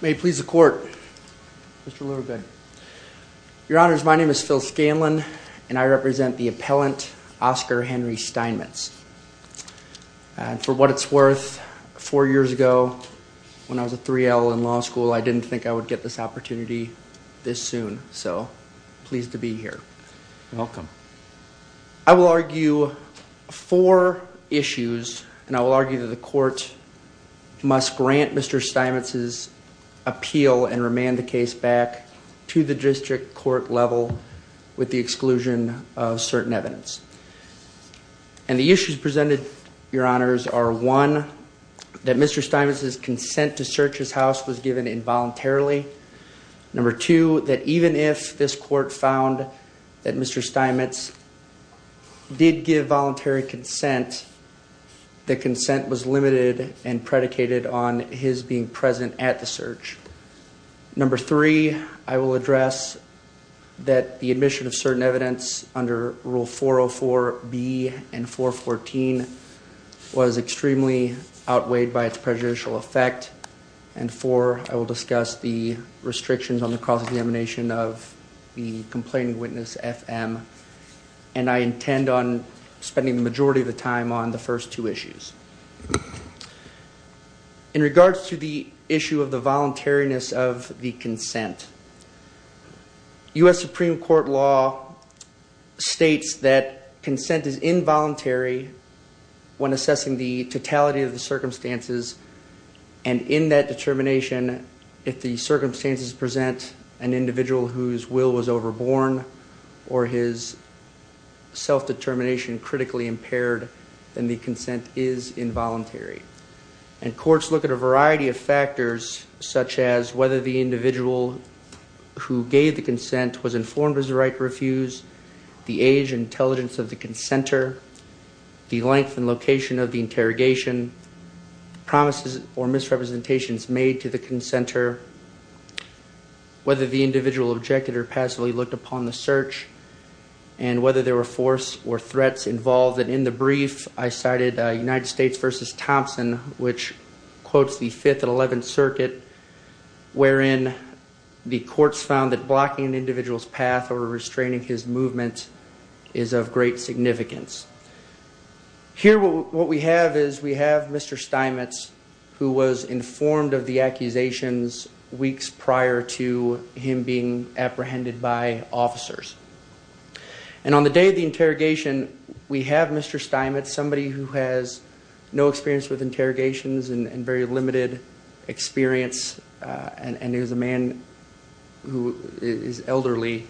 May it please the court, Mr. Luerbein. Your honors, my name is Phil Scanlon and I represent the appellant Oscar Henry Steinmetz. For what it's worth, four years ago when I was a 3L in law school, I didn't think I would get this opportunity this soon, so pleased to argue that the court must grant Mr. Steinmetz's appeal and remand the case back to the district court level with the exclusion of certain evidence. And the issues presented, your honors, are one, that Mr. Steinmetz's consent to search his house was given involuntarily. Number two, that even if this court found that Mr. Steinmetz did give voluntary consent, the consent was limited and predicated on his being present at the search. Number three, I will address that the admission of certain evidence under Rule 404B and 414 was extremely outweighed by its prejudicial effect. And four, I will discuss the restrictions on the cause of the emanation of the complaining witness, FM, and I intend on spending the majority of the time on the first two issues. In regards to the issue of the voluntariness of the consent, U.S. Supreme Court law states that consent is involuntary when assessing the totality of the circumstances, and in that determination, if the circumstances present an individual whose will was overborn or his self-determination critically impaired, then the consent is involuntary. And courts look at a variety of factors, such as whether the individual who gave the consent was informed as the right to refuse, the age and intelligence of the consenter, the length and location of the interrogation, promises or misrepresentations made to the consenter, whether the individual objected or passively looked upon the search, and whether there were force or threats involved. And in the brief, I cited United States v. Thompson, which quotes the 5th and 11th Circuit, wherein the courts found that blocking an Here, what we have is we have Mr. Steinmetz, who was informed of the accusations weeks prior to him being apprehended by officers. And on the day of the interrogation, we have Mr. Steinmetz, somebody who has no experience with interrogations and very limited experience, and he was a man who is elderly,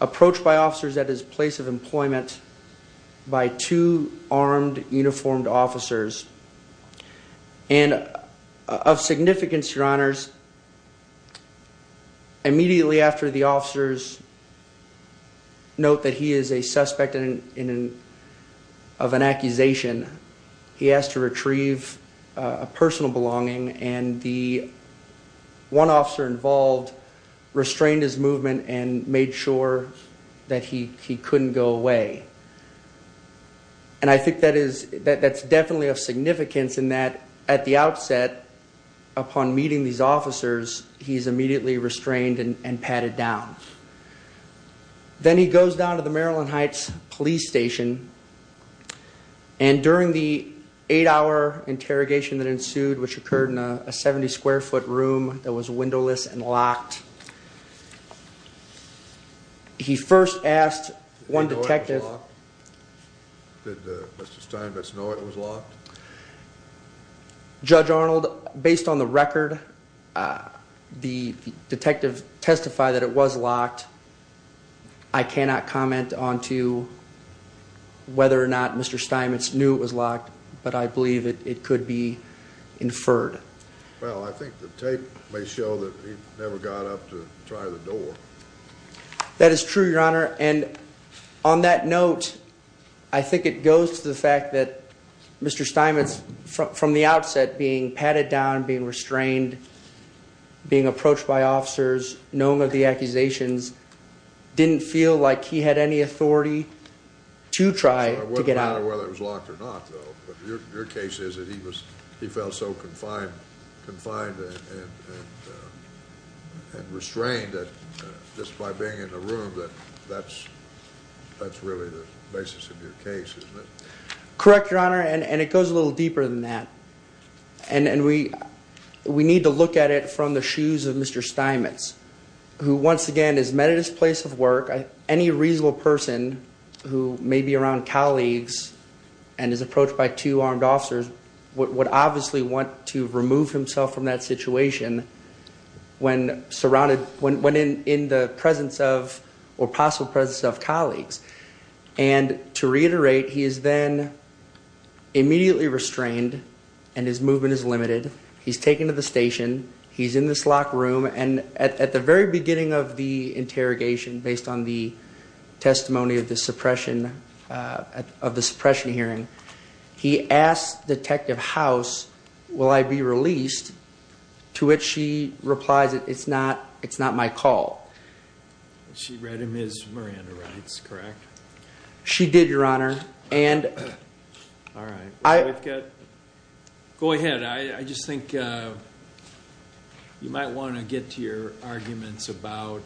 approached by officers at his place of employment by two armed, uniformed officers. And of significance, Your Honors, immediately after the officers note that he is a suspect of an accusation, he asked to retrieve a personal belonging and the one officer involved restrained his movement and made sure that he couldn't go away. And I think that is, that's definitely of significance in that, at the outset, upon meeting these officers, he's immediately restrained and patted down. Then he goes down to the Maryland Heights Police Station, and during the eight-hour interrogation that ensued, which occurred in a 70-square-foot room that was windowless and locked, he first asked one detective... Did Mr. Steinmetz know it was locked? Judge Arnold, based on the record, the detective testified that it was locked. I cannot comment onto whether or not Mr. Steinmetz knew it was locked, but I believe it could be inferred. Well, I think the tape may show that he never got up to try the door. That is true, Your Honor, and on that note, I think it goes to the fact that Mr. Steinmetz, from the outset, being patted down, being restrained, being approached by officers, knowing of the accusations, didn't feel like he had any authority to try to get out. So it wouldn't matter whether it was locked or not, though, but your case is that he felt so confined and restrained, just by being in the room, that that's really the basis of your case, isn't it? Correct, Your Honor, and it goes a little deeper than that, and we need to look at it from the shoes of Mr. Steinmetz, who, once again, is met at his place of work. Any reasonable person who may be around colleagues and is approached by two armed officers would obviously want to remove himself from that situation when surrounded, when in the presence of, or possible presence of, colleagues, and to reiterate, he is then immediately restrained and his movement is limited. He's taken to the station. He's in this locked room, and at the very beginning of the interrogation, based on the testimony of the suppression, of the suppression hearing, he asked Detective House, will I be released? To which she replies, it's not, it's not my call. She read him his Miranda Rights, correct? She did, Your Honor, and... All right. Go ahead. I just think you might want to get to your arguments about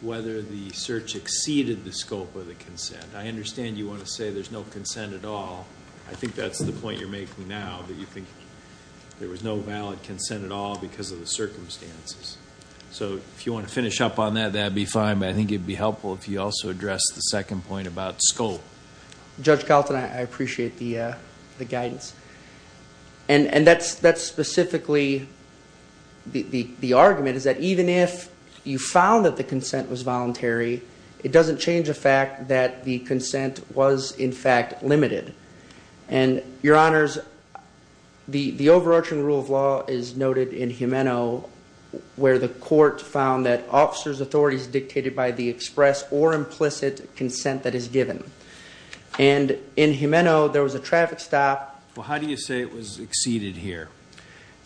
whether the search exceeded the scope of the consent. I understand you want to say there's no consent at all. I think that's the point you're making now, that you think there was no valid consent at all because of the circumstances, so if you want to finish up on that, that'd be fine, but I think it'd be helpful if you also address the the argument is that even if you found that the consent was voluntary, it doesn't change the fact that the consent was, in fact, limited, and Your Honors, the overarching rule of law is noted in Gimeno, where the court found that officers' authority is dictated by the express or implicit consent that is given, and in Gimeno, there was a traffic stop. Well, how do you say it was exceeded here?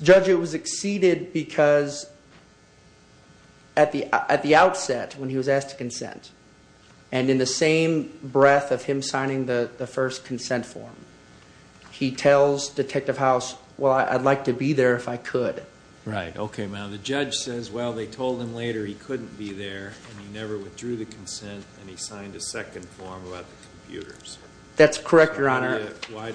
Judge, it was exceeded because at the outset, when he was asked to consent, and in the same breath of him signing the first consent form, he tells Detective House, well, I'd like to be there if I could. Right. Okay, now the judge says, well, they told him later he couldn't be there, and he never withdrew the consent, and he signed a second form about the computers. That's correct, Your Honor. Why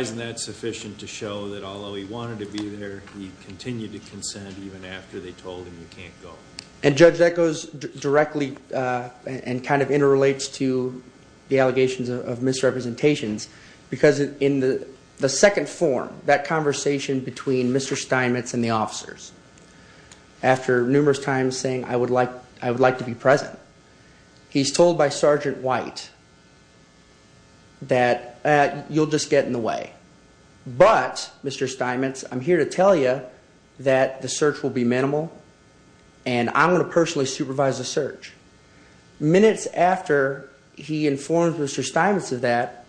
isn't that sufficient to show that although he wanted to be there, he continued to consent even after they told him he can't go? And Judge, that goes directly and kind of interrelates to the allegations of misrepresentations, because in the second form, that conversation between Mr. Steinmetz and the officers, after numerous times saying, I would like to be present, he's told by that you'll just get in the way. But, Mr. Steinmetz, I'm here to tell you that the search will be minimal, and I'm going to personally supervise the search. Minutes after he informed Mr. Steinmetz of that,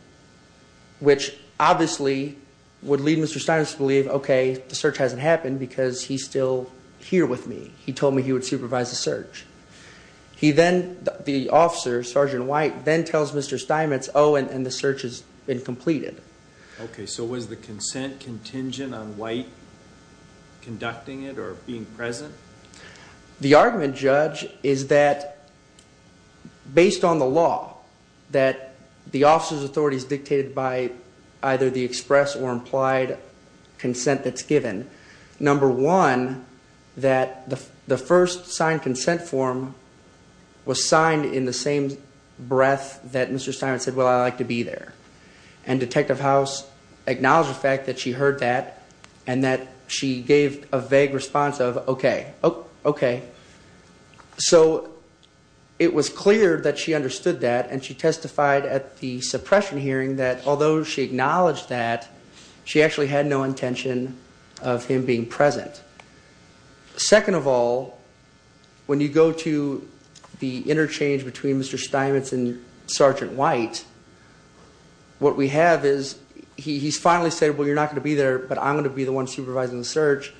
which obviously would lead Mr. Steinmetz to believe, okay, the search hasn't happened because he's still here with me. He told me he would supervise the search. He then, the officer, Sergeant White, then the search has been completed. Okay, so was the consent contingent on White conducting it or being present? The argument, Judge, is that based on the law, that the officer's authority is dictated by either the express or implied consent that's given. Number one, that the first signed consent form was signed in the same breath that Mr. Steinmetz said, well, I'd like to be there. And Detective House acknowledged the fact that she heard that, and that she gave a vague response of, okay, okay. So, it was clear that she understood that, and she testified at the suppression hearing that although she acknowledged that, she actually had no Second of all, when you go to the interchange between Mr. Steinmetz and Sergeant White, what we have is, he's finally said, well, you're not going to be there, but I'm going to be the one supervising the search,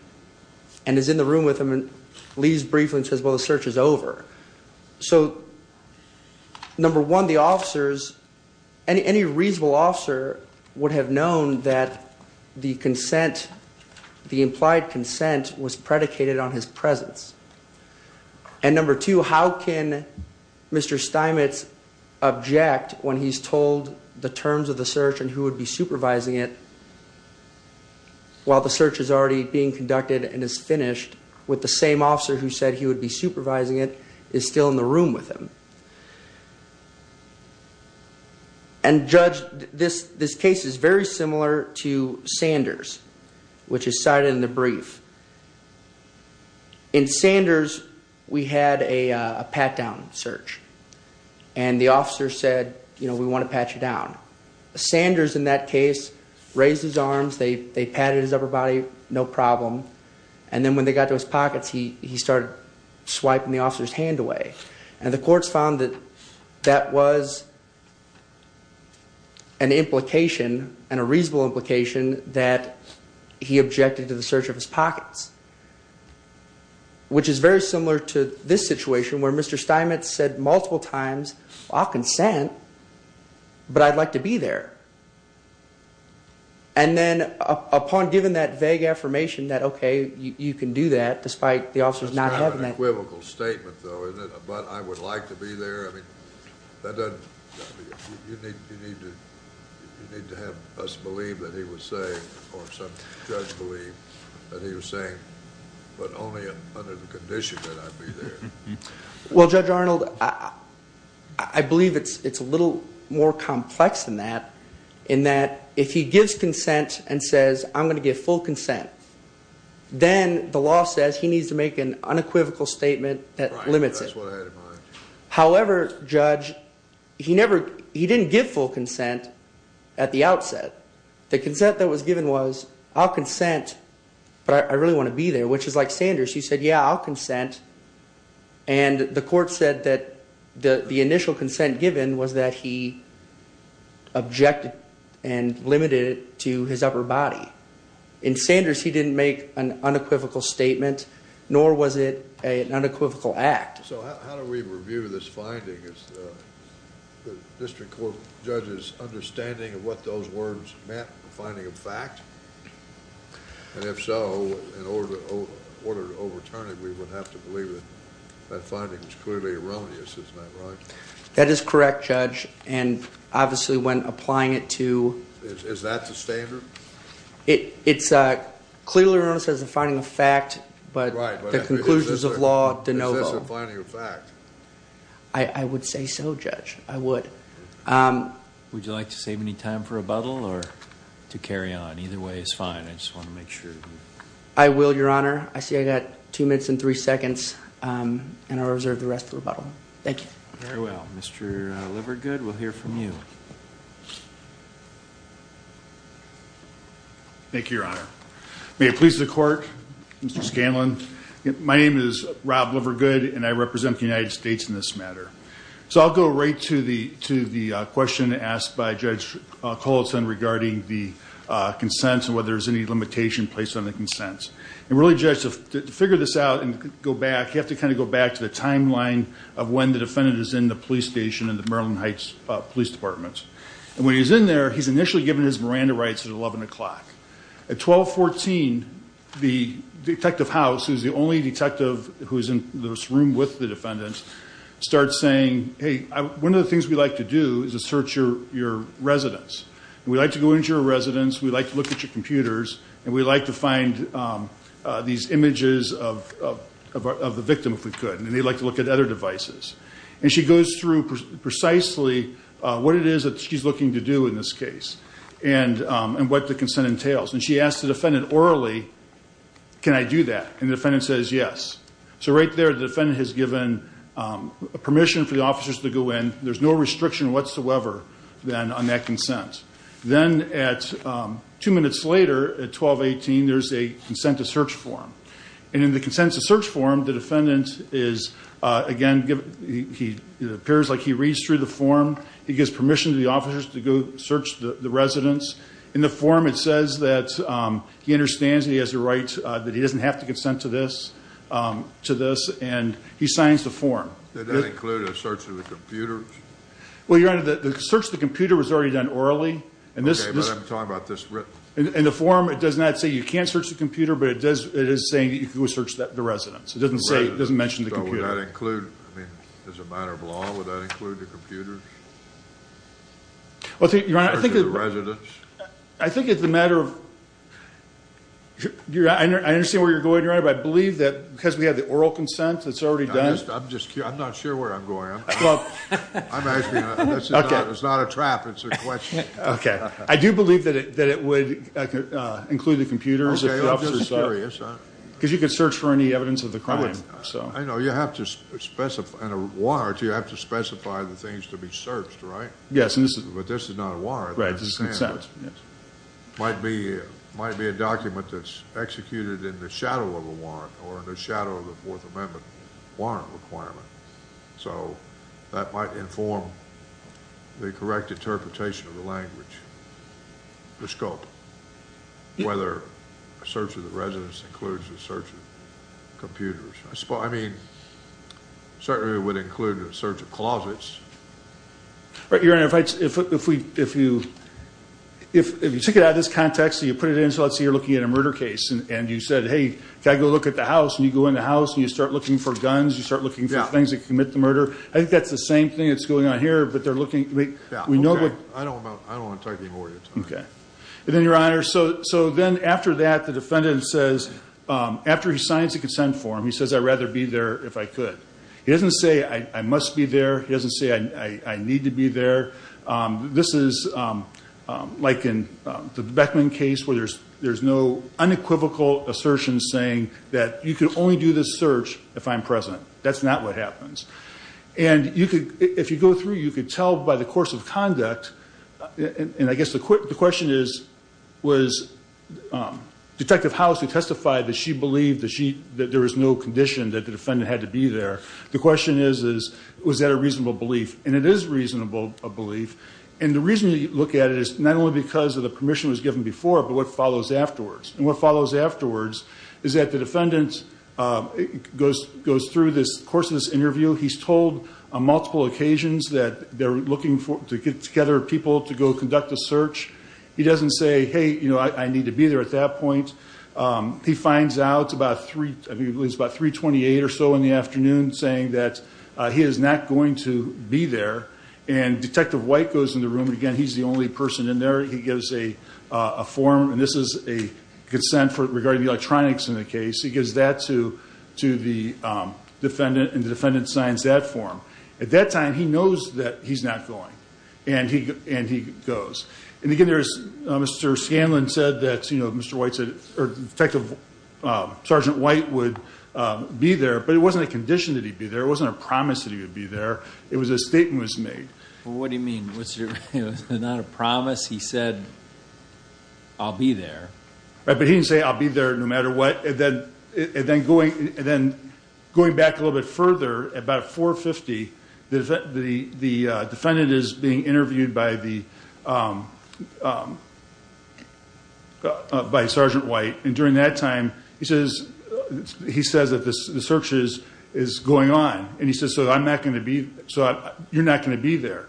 and is in the room with him, and leaves briefly and says, well, the search is over. So, number one, the officers, any reasonable officer would have known that the implied consent was predicated on his presence. And number two, how can Mr. Steinmetz object when he's told the terms of the search and who would be supervising it, while the search is already being conducted and is finished, with the same officer who said he would be supervising it, is still in the room with him. And judge, this case is very similar to Sanders, which is cited in the brief. In Sanders, we had a pat-down search, and the officer said, you know, we want to pat you down. Sanders, in that case, raised his arms, they patted his upper body, no problem, and then when they got to his pockets, he started swiping the officer's hand away. And the courts found that that was an implication, and a reasonable implication, that he objected to the search of his And then, upon giving that vague affirmation that, okay, you can do that, despite the officer's not having that... That's kind of an equivocal statement, though, isn't it? But I would like to be there, I mean, that doesn't... You need to have us believe that he was saying, or some judge believe that he was saying, but only under the condition that I be there. Well, Judge Arnold, I believe it's a little more complex than that, in that, if he gives consent and says, I'm going to give full consent, then the law says he needs to make an unequivocal statement that limits it. However, Judge, he didn't give full consent at the outset. The consent that was given was, I'll In Sanders, he said, yeah, I'll consent, and the court said that the initial consent given was that he objected and limited it to his upper body. In Sanders, he didn't make an unequivocal statement, nor was it an unequivocal act. So how do we review this finding? Is the district court judge's understanding of what those words meant, a finding of fact? And if so, in order to overturn it, we would have to believe that that finding was clearly erroneous, isn't that right? That is correct, Judge, and obviously, when applying it to... Is that the standard? It's clearly erroneous as a finding of fact, but the conclusions of law de novo. But this is a finding of fact. I would say so, Judge, I would. Would you like to save any time for rebuttal or to carry on? Either way is fine. I just want to make sure. I will, Your Honor. I see I got two minutes and three seconds, and I'll reserve the rest of the rebuttal. Thank you. Very well. Mr. Livergood, we'll hear from you. Thank you, Your Honor. May it please the court, Mr. Scanlon, my name is Rob Livergood, and I represent the United States in this matter. So I'll go right to the question asked by Judge Coleton regarding the consents and whether there's any limitation placed on the consents. And really, Judge, to figure this out and go back, you have to kind of go back to the timeline of when the defendant is in the police station in the Maryland Heights Police Department. And when he's in there, he's initially given his Miranda rights at 11 o'clock. At 12.14, the detective house, who's the only detective who's in this room with the defendant, starts saying, Hey, one of the things we like to do is to search your residence. We'd like to go into your residence. We'd like to look at your computers. And we'd like to find these images of the victim, if we could. And they'd like to look at other devices. And she goes through precisely what it is that she's looking to do in this case and what the consent entails. And she asked the defendant orally, can I do that? And the defendant says yes. So right there, the defendant has given permission for the officers to go in. There's no restriction whatsoever, then, on that consent. Then at two minutes later, at 12.18, there's a consent to search form. And in the consent to search form, the defendant is, again, he appears like he reads through the form. He gives permission to the officers to go search the residence. In the form, it says that he understands he has a right, that he doesn't have to consent to this. And he signs the form. Does that include a search of the computers? Well, Your Honor, the search of the computer was already done orally. Okay, but I'm talking about this written. In the form, it does not say you can't search the computer, but it is saying you can go search the residence. It doesn't mention the computer. So would that include, as a matter of law, would that include the computers? Well, Your Honor, I think it's a matter of, I understand where you're going, Your Honor, but I believe that because we have the oral consent that's already done. I'm just curious. I'm not sure where I'm going. I'm asking. It's not a trap. It's a question. Okay. I do believe that it would include the computers. Okay, I'm just curious. Because you could search for any evidence of the crime. I know. You have to specify, in a warrant, you have to specify the things to be searched, right? Yes. But this is not a warrant. Right. This is consent. It might be a document that's executed in the shadow of a warrant or in the shadow of the Fourth Amendment warrant requirement. So that might inform the correct interpretation of the language, the scope, whether a search of the residence includes a search of computers. I mean, certainly it would include a search of closets. Your Honor, if you took it out of this context and you put it in, so let's say you're looking at a murder case and you said, hey, can I go look at the house? And you go in the house and you start looking for guns. You start looking for things that commit the murder. I think that's the same thing that's going on here, but they're looking. I don't want to take any more of your time. Okay. And then, Your Honor, so then after that, the defendant says, after he signs the consent form, he says, I'd rather be there if I could. He doesn't say, I must be there. He doesn't say, I need to be there. This is like in the Beckman case where there's no unequivocal assertion saying that you can only do this search if I'm present. That's not what happens. And if you go through, you could tell by the course of conduct, and I guess the question is, was Detective House who testified that she believed that there was no condition that the defendant had to be there, the question is, was that a reasonable belief? And it is a reasonable belief. And the reason you look at it is not only because of the permission that was given before, but what follows afterwards. And what follows afterwards is that the defendant goes through this course of this interview. He's told on multiple occasions that they're looking to get together people to go conduct a search. He doesn't say, hey, you know, I need to be there at that point. He finds out about 328 or so in the afternoon saying that he is not going to be there. And Detective White goes in the room, and again, he's the only person in there. He gives a form, and this is a consent regarding the electronics in the case. He gives that to the defendant, and the defendant signs that form. At that time, he knows that he's not going, and he goes. And again, Mr. Scanlon said that Detective Sergeant White would be there, but it wasn't a condition that he'd be there. It wasn't a promise that he would be there. It was a statement that was made. Well, what do you mean? It was not a promise? He said, I'll be there. But he didn't say, I'll be there no matter what. And then going back a little bit further, about 4.50, the defendant is being interviewed by Sergeant White. And during that time, he says that the search is going on. And he says, so you're not going to be there.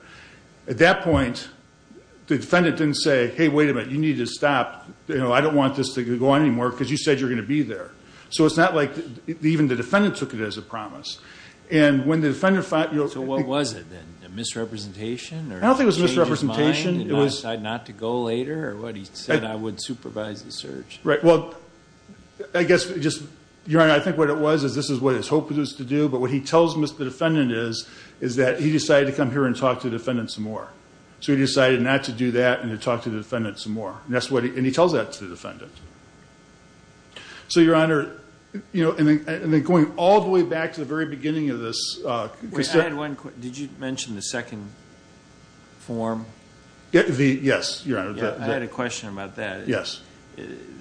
At that point, the defendant didn't say, hey, wait a minute. You need to stop. I don't want this to go on anymore because you said you're going to be there. So it's not like even the defendant took it as a promise. So what was it then, a misrepresentation? I don't think it was a misrepresentation. Did he decide not to go later, or what? He said, I would supervise the search. Right. Well, I guess, Your Honor, I think what it was is this is what he was hoping to do, but what he tells the defendant is that he decided to come here and talk to the defendant some more. So he decided not to do that and to talk to the defendant some more. And he tells that to the defendant. So, Your Honor, and then going all the way back to the very beginning of this. Did you mention the second form? Yes, Your Honor. I had a question about that. Yes.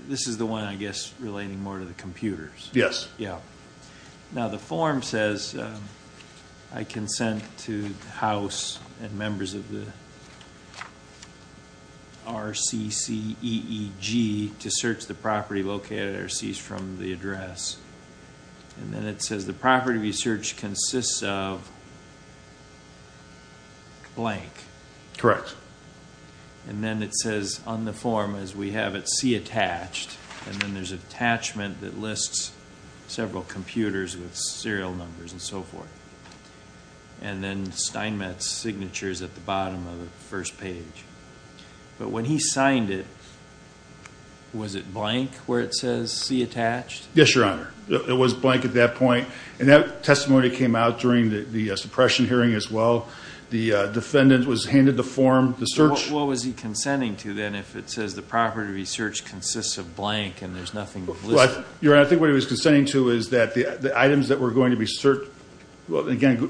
This is the one, I guess, relating more to the computers. Yes. Yeah. Now, the form says, I consent to the House and members of the RCCEEG to search the property located at or cease from the address. And then it says the property to be searched consists of blank. Correct. And then it says on the form, as we have it, see attached. And then there's an attachment that lists several computers with serial numbers and so forth. And then Steinmetz signatures at the bottom of the first page. But when he signed it, was it blank where it says see attached? Yes, Your Honor. It was blank at that point. And that testimony came out during the suppression hearing as well. The defendant was handed the form. What was he consenting to then if it says the property to be searched consists of blank and there's nothing listed? Your Honor, I think what he was consenting to is that the items that were going to be searched, well, again,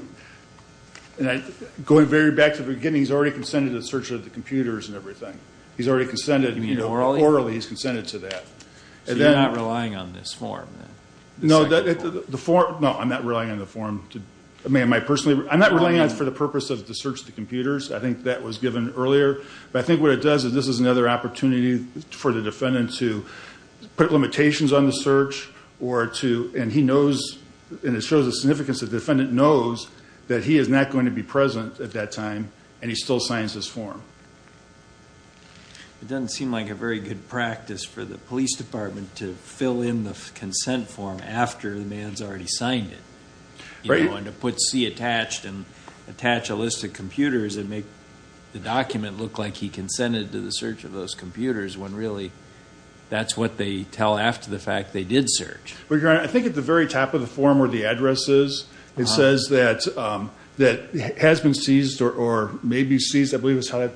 going very back to the beginning, he's already consented to the search of the computers and everything. He's already consented. You mean orally? Orally, he's consented to that. So you're not relying on this form then? No, I'm not relying on the form. I'm not relying on it for the purpose of the search of the computers. I think that was given earlier. But I think what it does is this is another opportunity for the defendant to put limitations on the search and it shows the significance the defendant knows that he is not going to be present at that time and he still signs this form. It doesn't seem like a very good practice for the police department to fill in the consent form after the man's already signed it. Right. And to put C attached and attach a list of computers and make the document look like he consented to the search of those computers when really that's what they tell after the fact they did search. Your Honor, I think at the very top of the form where the address is, it says that has been seized or may be seized, I believe it's how that...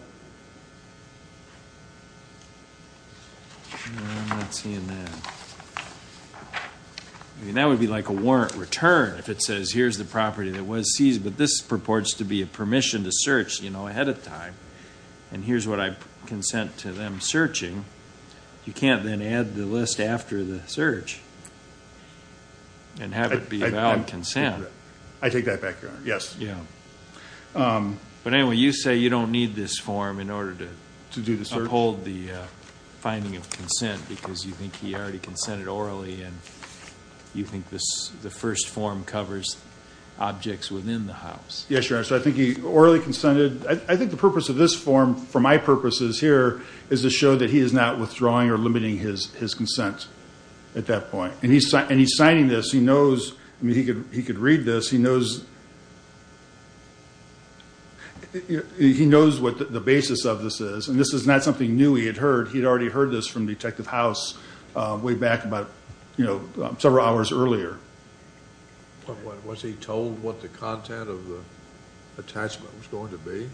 I'm not seeing that. I mean, that would be like a warrant return if it says here's the property that was seized but this purports to be a permission to search, you know, ahead of time and here's what I consent to them searching. You can't then add the list after the search and have it be a valid consent. I take that back, Your Honor. Yes. Yeah. But anyway, you say you don't need this form in order to uphold the finding of consent because you think he already consented orally and you think the first form covers objects within the house. Yes, Your Honor. So I think he orally consented... I think the purpose of this form for my purposes here is to show that he is not withdrawing or limiting his consent at that point. And he's signing this. He knows... I mean, he could read this. He knows... He knows what the basis of this is. And this is not something new he had heard. He had already heard this from Detective House way back about, you know, several hours earlier. Was he told what the content of the attachment was going to be?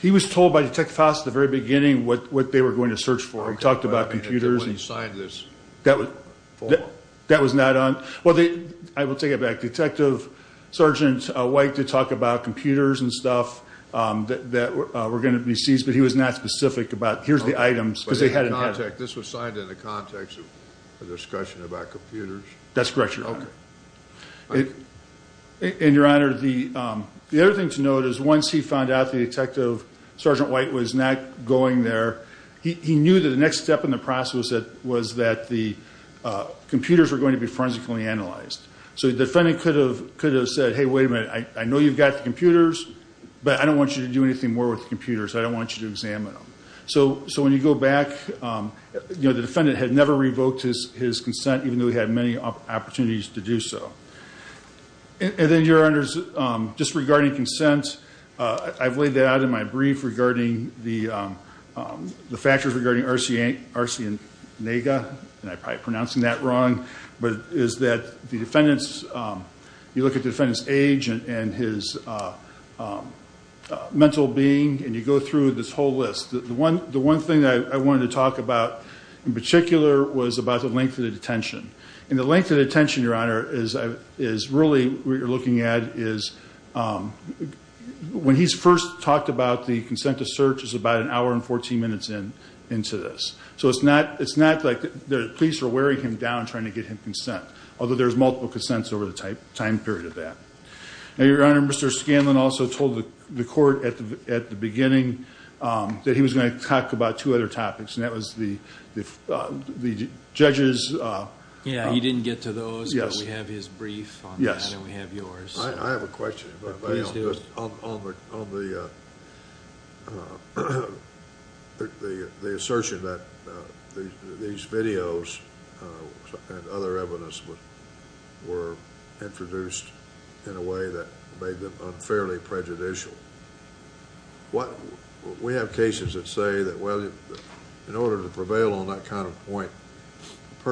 He was told by Detective House at the very beginning what they were going to search for. Okay, but I mean, if he wouldn't have signed this form. That was not on... Well, I will take it back. Detective Sergeant White did talk about computers and stuff that were going to be seized, but he was not specific about, here's the items, because they hadn't had them. But this was signed in the context of a discussion about computers? That's correct, Your Honor. Okay. And, Your Honor, the other thing to note is once he found out that Detective Sergeant White was not going there, he knew that the next step in the process was that the computers were going to be forensically analyzed. So the defendant could have said, Hey, wait a minute, I know you've got the computers, but I don't want you to do anything more with the computers. I don't want you to examine them. So when you go back, you know, the defendant had never revoked his consent, even though he had many opportunities to do so. And then, Your Honor, just regarding consent, I've laid that out in my brief regarding the factors regarding Arsenega, and I'm probably pronouncing that wrong, but it is that the defendant's, you look at the defendant's age and his mental being, and you go through this whole list. The one thing that I wanted to talk about in particular was about the length of the detention. And the length of the detention, Your Honor, is really what you're looking at is when he's first talked about the consent to search is about an hour and 14 minutes into this. So it's not like the police are wearing him down trying to get him consent, although there's multiple consents over the time period of that. Now, Your Honor, Mr. Scanlon also told the court at the beginning that he was going to talk about two other topics, and that was the judges. Yeah, he didn't get to those, but we have his brief on that, and we have yours. I have a question, if I may, on the assertion that these videos and other evidence were introduced in a way that made them unfairly prejudicial. We have cases that say that, well, in order to prevail on that kind of point, the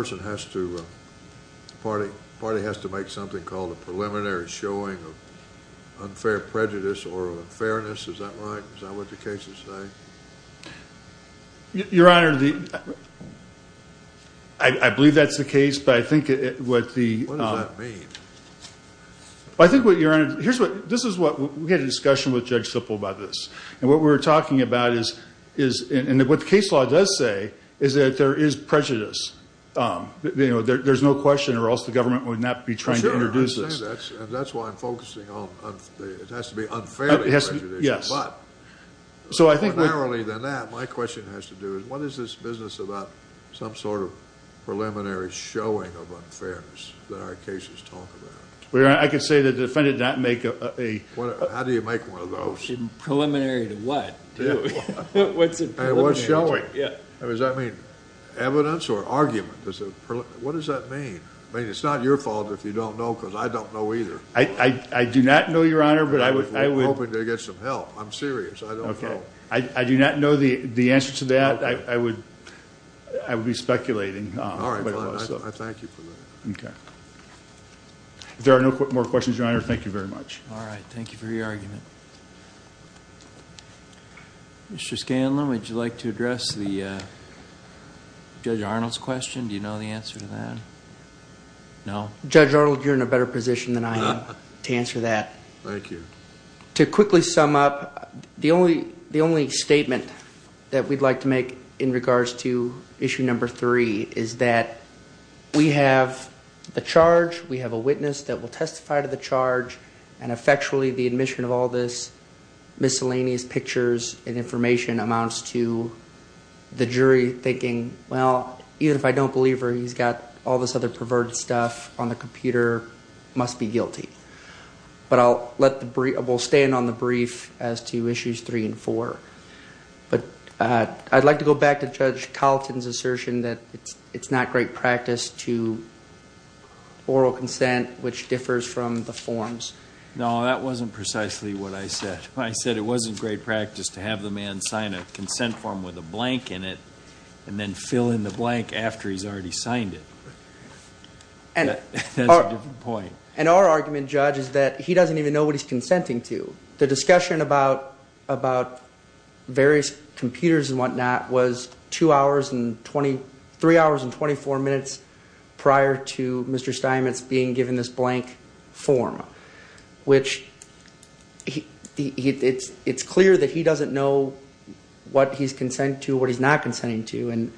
party has to make something called a preliminary showing of unfair prejudice or unfairness. Is that right? Is that what the cases say? Your Honor, I believe that's the case, but I think what the— What does that mean? I think what Your Honor—this is what—we had a discussion with Judge Sipple about this. And what we were talking about is—and what the case law does say is that there is prejudice. There's no question or else the government would not be trying to introduce this. That's why I'm focusing on—it has to be unfairly prejudicial. Yes. But more narrowly than that, my question has to do is, what is this business about some sort of preliminary showing of unfairness that our cases talk about? Your Honor, I can say that the defendant did not make a— How do you make one of those? Preliminary to what? And what's showing? Does that mean evidence or argument? What does that mean? I mean, it's not your fault if you don't know because I don't know either. I do not know, Your Honor, but I would— I'm hoping to get some help. I'm serious. I don't know. I do not know the answer to that. I would be speculating. All right, fine. I thank you for that. Okay. If there are no more questions, Your Honor, thank you very much. All right. Thank you for your argument. Mr. Scanlon, would you like to address Judge Arnold's question? Do you know the answer to that? No? Judge Arnold, you're in a better position than I am to answer that. Thank you. To quickly sum up, the only statement that we'd like to make in regards to issue number three is that we have the charge, we have a witness that will testify to the charge, and effectually the admission of all this miscellaneous pictures and information amounts to the jury thinking, well, even if I don't believe her, he's got all this other perverted stuff on the computer, must be guilty. But I'll let the—we'll stand on the brief as to issues three and four. But I'd like to go back to Judge Carlton's assertion that it's not great practice to oral consent, which differs from the forms. No, that wasn't precisely what I said. I said it wasn't great practice to have the man sign a consent form with a blank in it and then fill in the blank after he's already signed it. That's a different point. And our argument, Judge, is that he doesn't even know what he's consenting to. The discussion about various computers and whatnot was two hours and 20—three hours and 24 minutes prior to Mr. Steinmetz being given this blank form, which it's clear that he doesn't know what he's consenting to, what he's not consenting to. And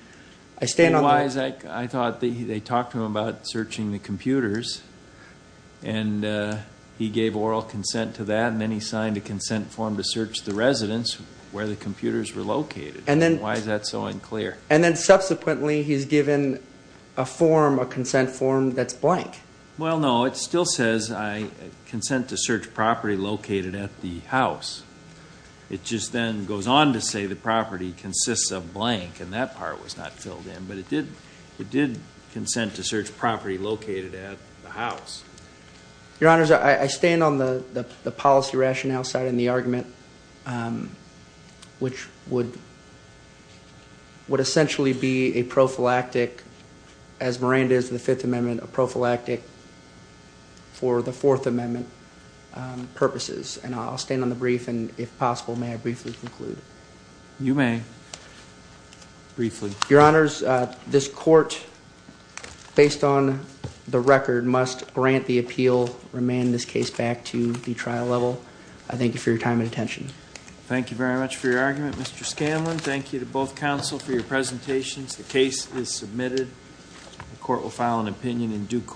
I stand on the— Otherwise, I thought they talked to him about searching the computers and he gave oral consent to that and then he signed a consent form to search the residence where the computers were located. And then— Why is that so unclear? And then subsequently he's given a form, a consent form, that's blank. Well, no, it still says, I consent to search property located at the house. It just then goes on to say the property consists of blank and that part was not filled in. But it did—it did consent to search property located at the house. Your Honors, I stand on the policy rationale side in the argument, which would essentially be a prophylactic, as Miranda is in the Fifth Amendment, a prophylactic for the Fourth Amendment purposes. And I'll stand on the brief and, if possible, may I briefly conclude? You may, briefly. Your Honors, this court, based on the record, must grant the appeal, remand this case back to the trial level. I thank you for your time and attention. Thank you very much for your argument, Mr. Scanlon. Thank you to both counsel for your presentations. The case is submitted. The court will file an opinion in due course.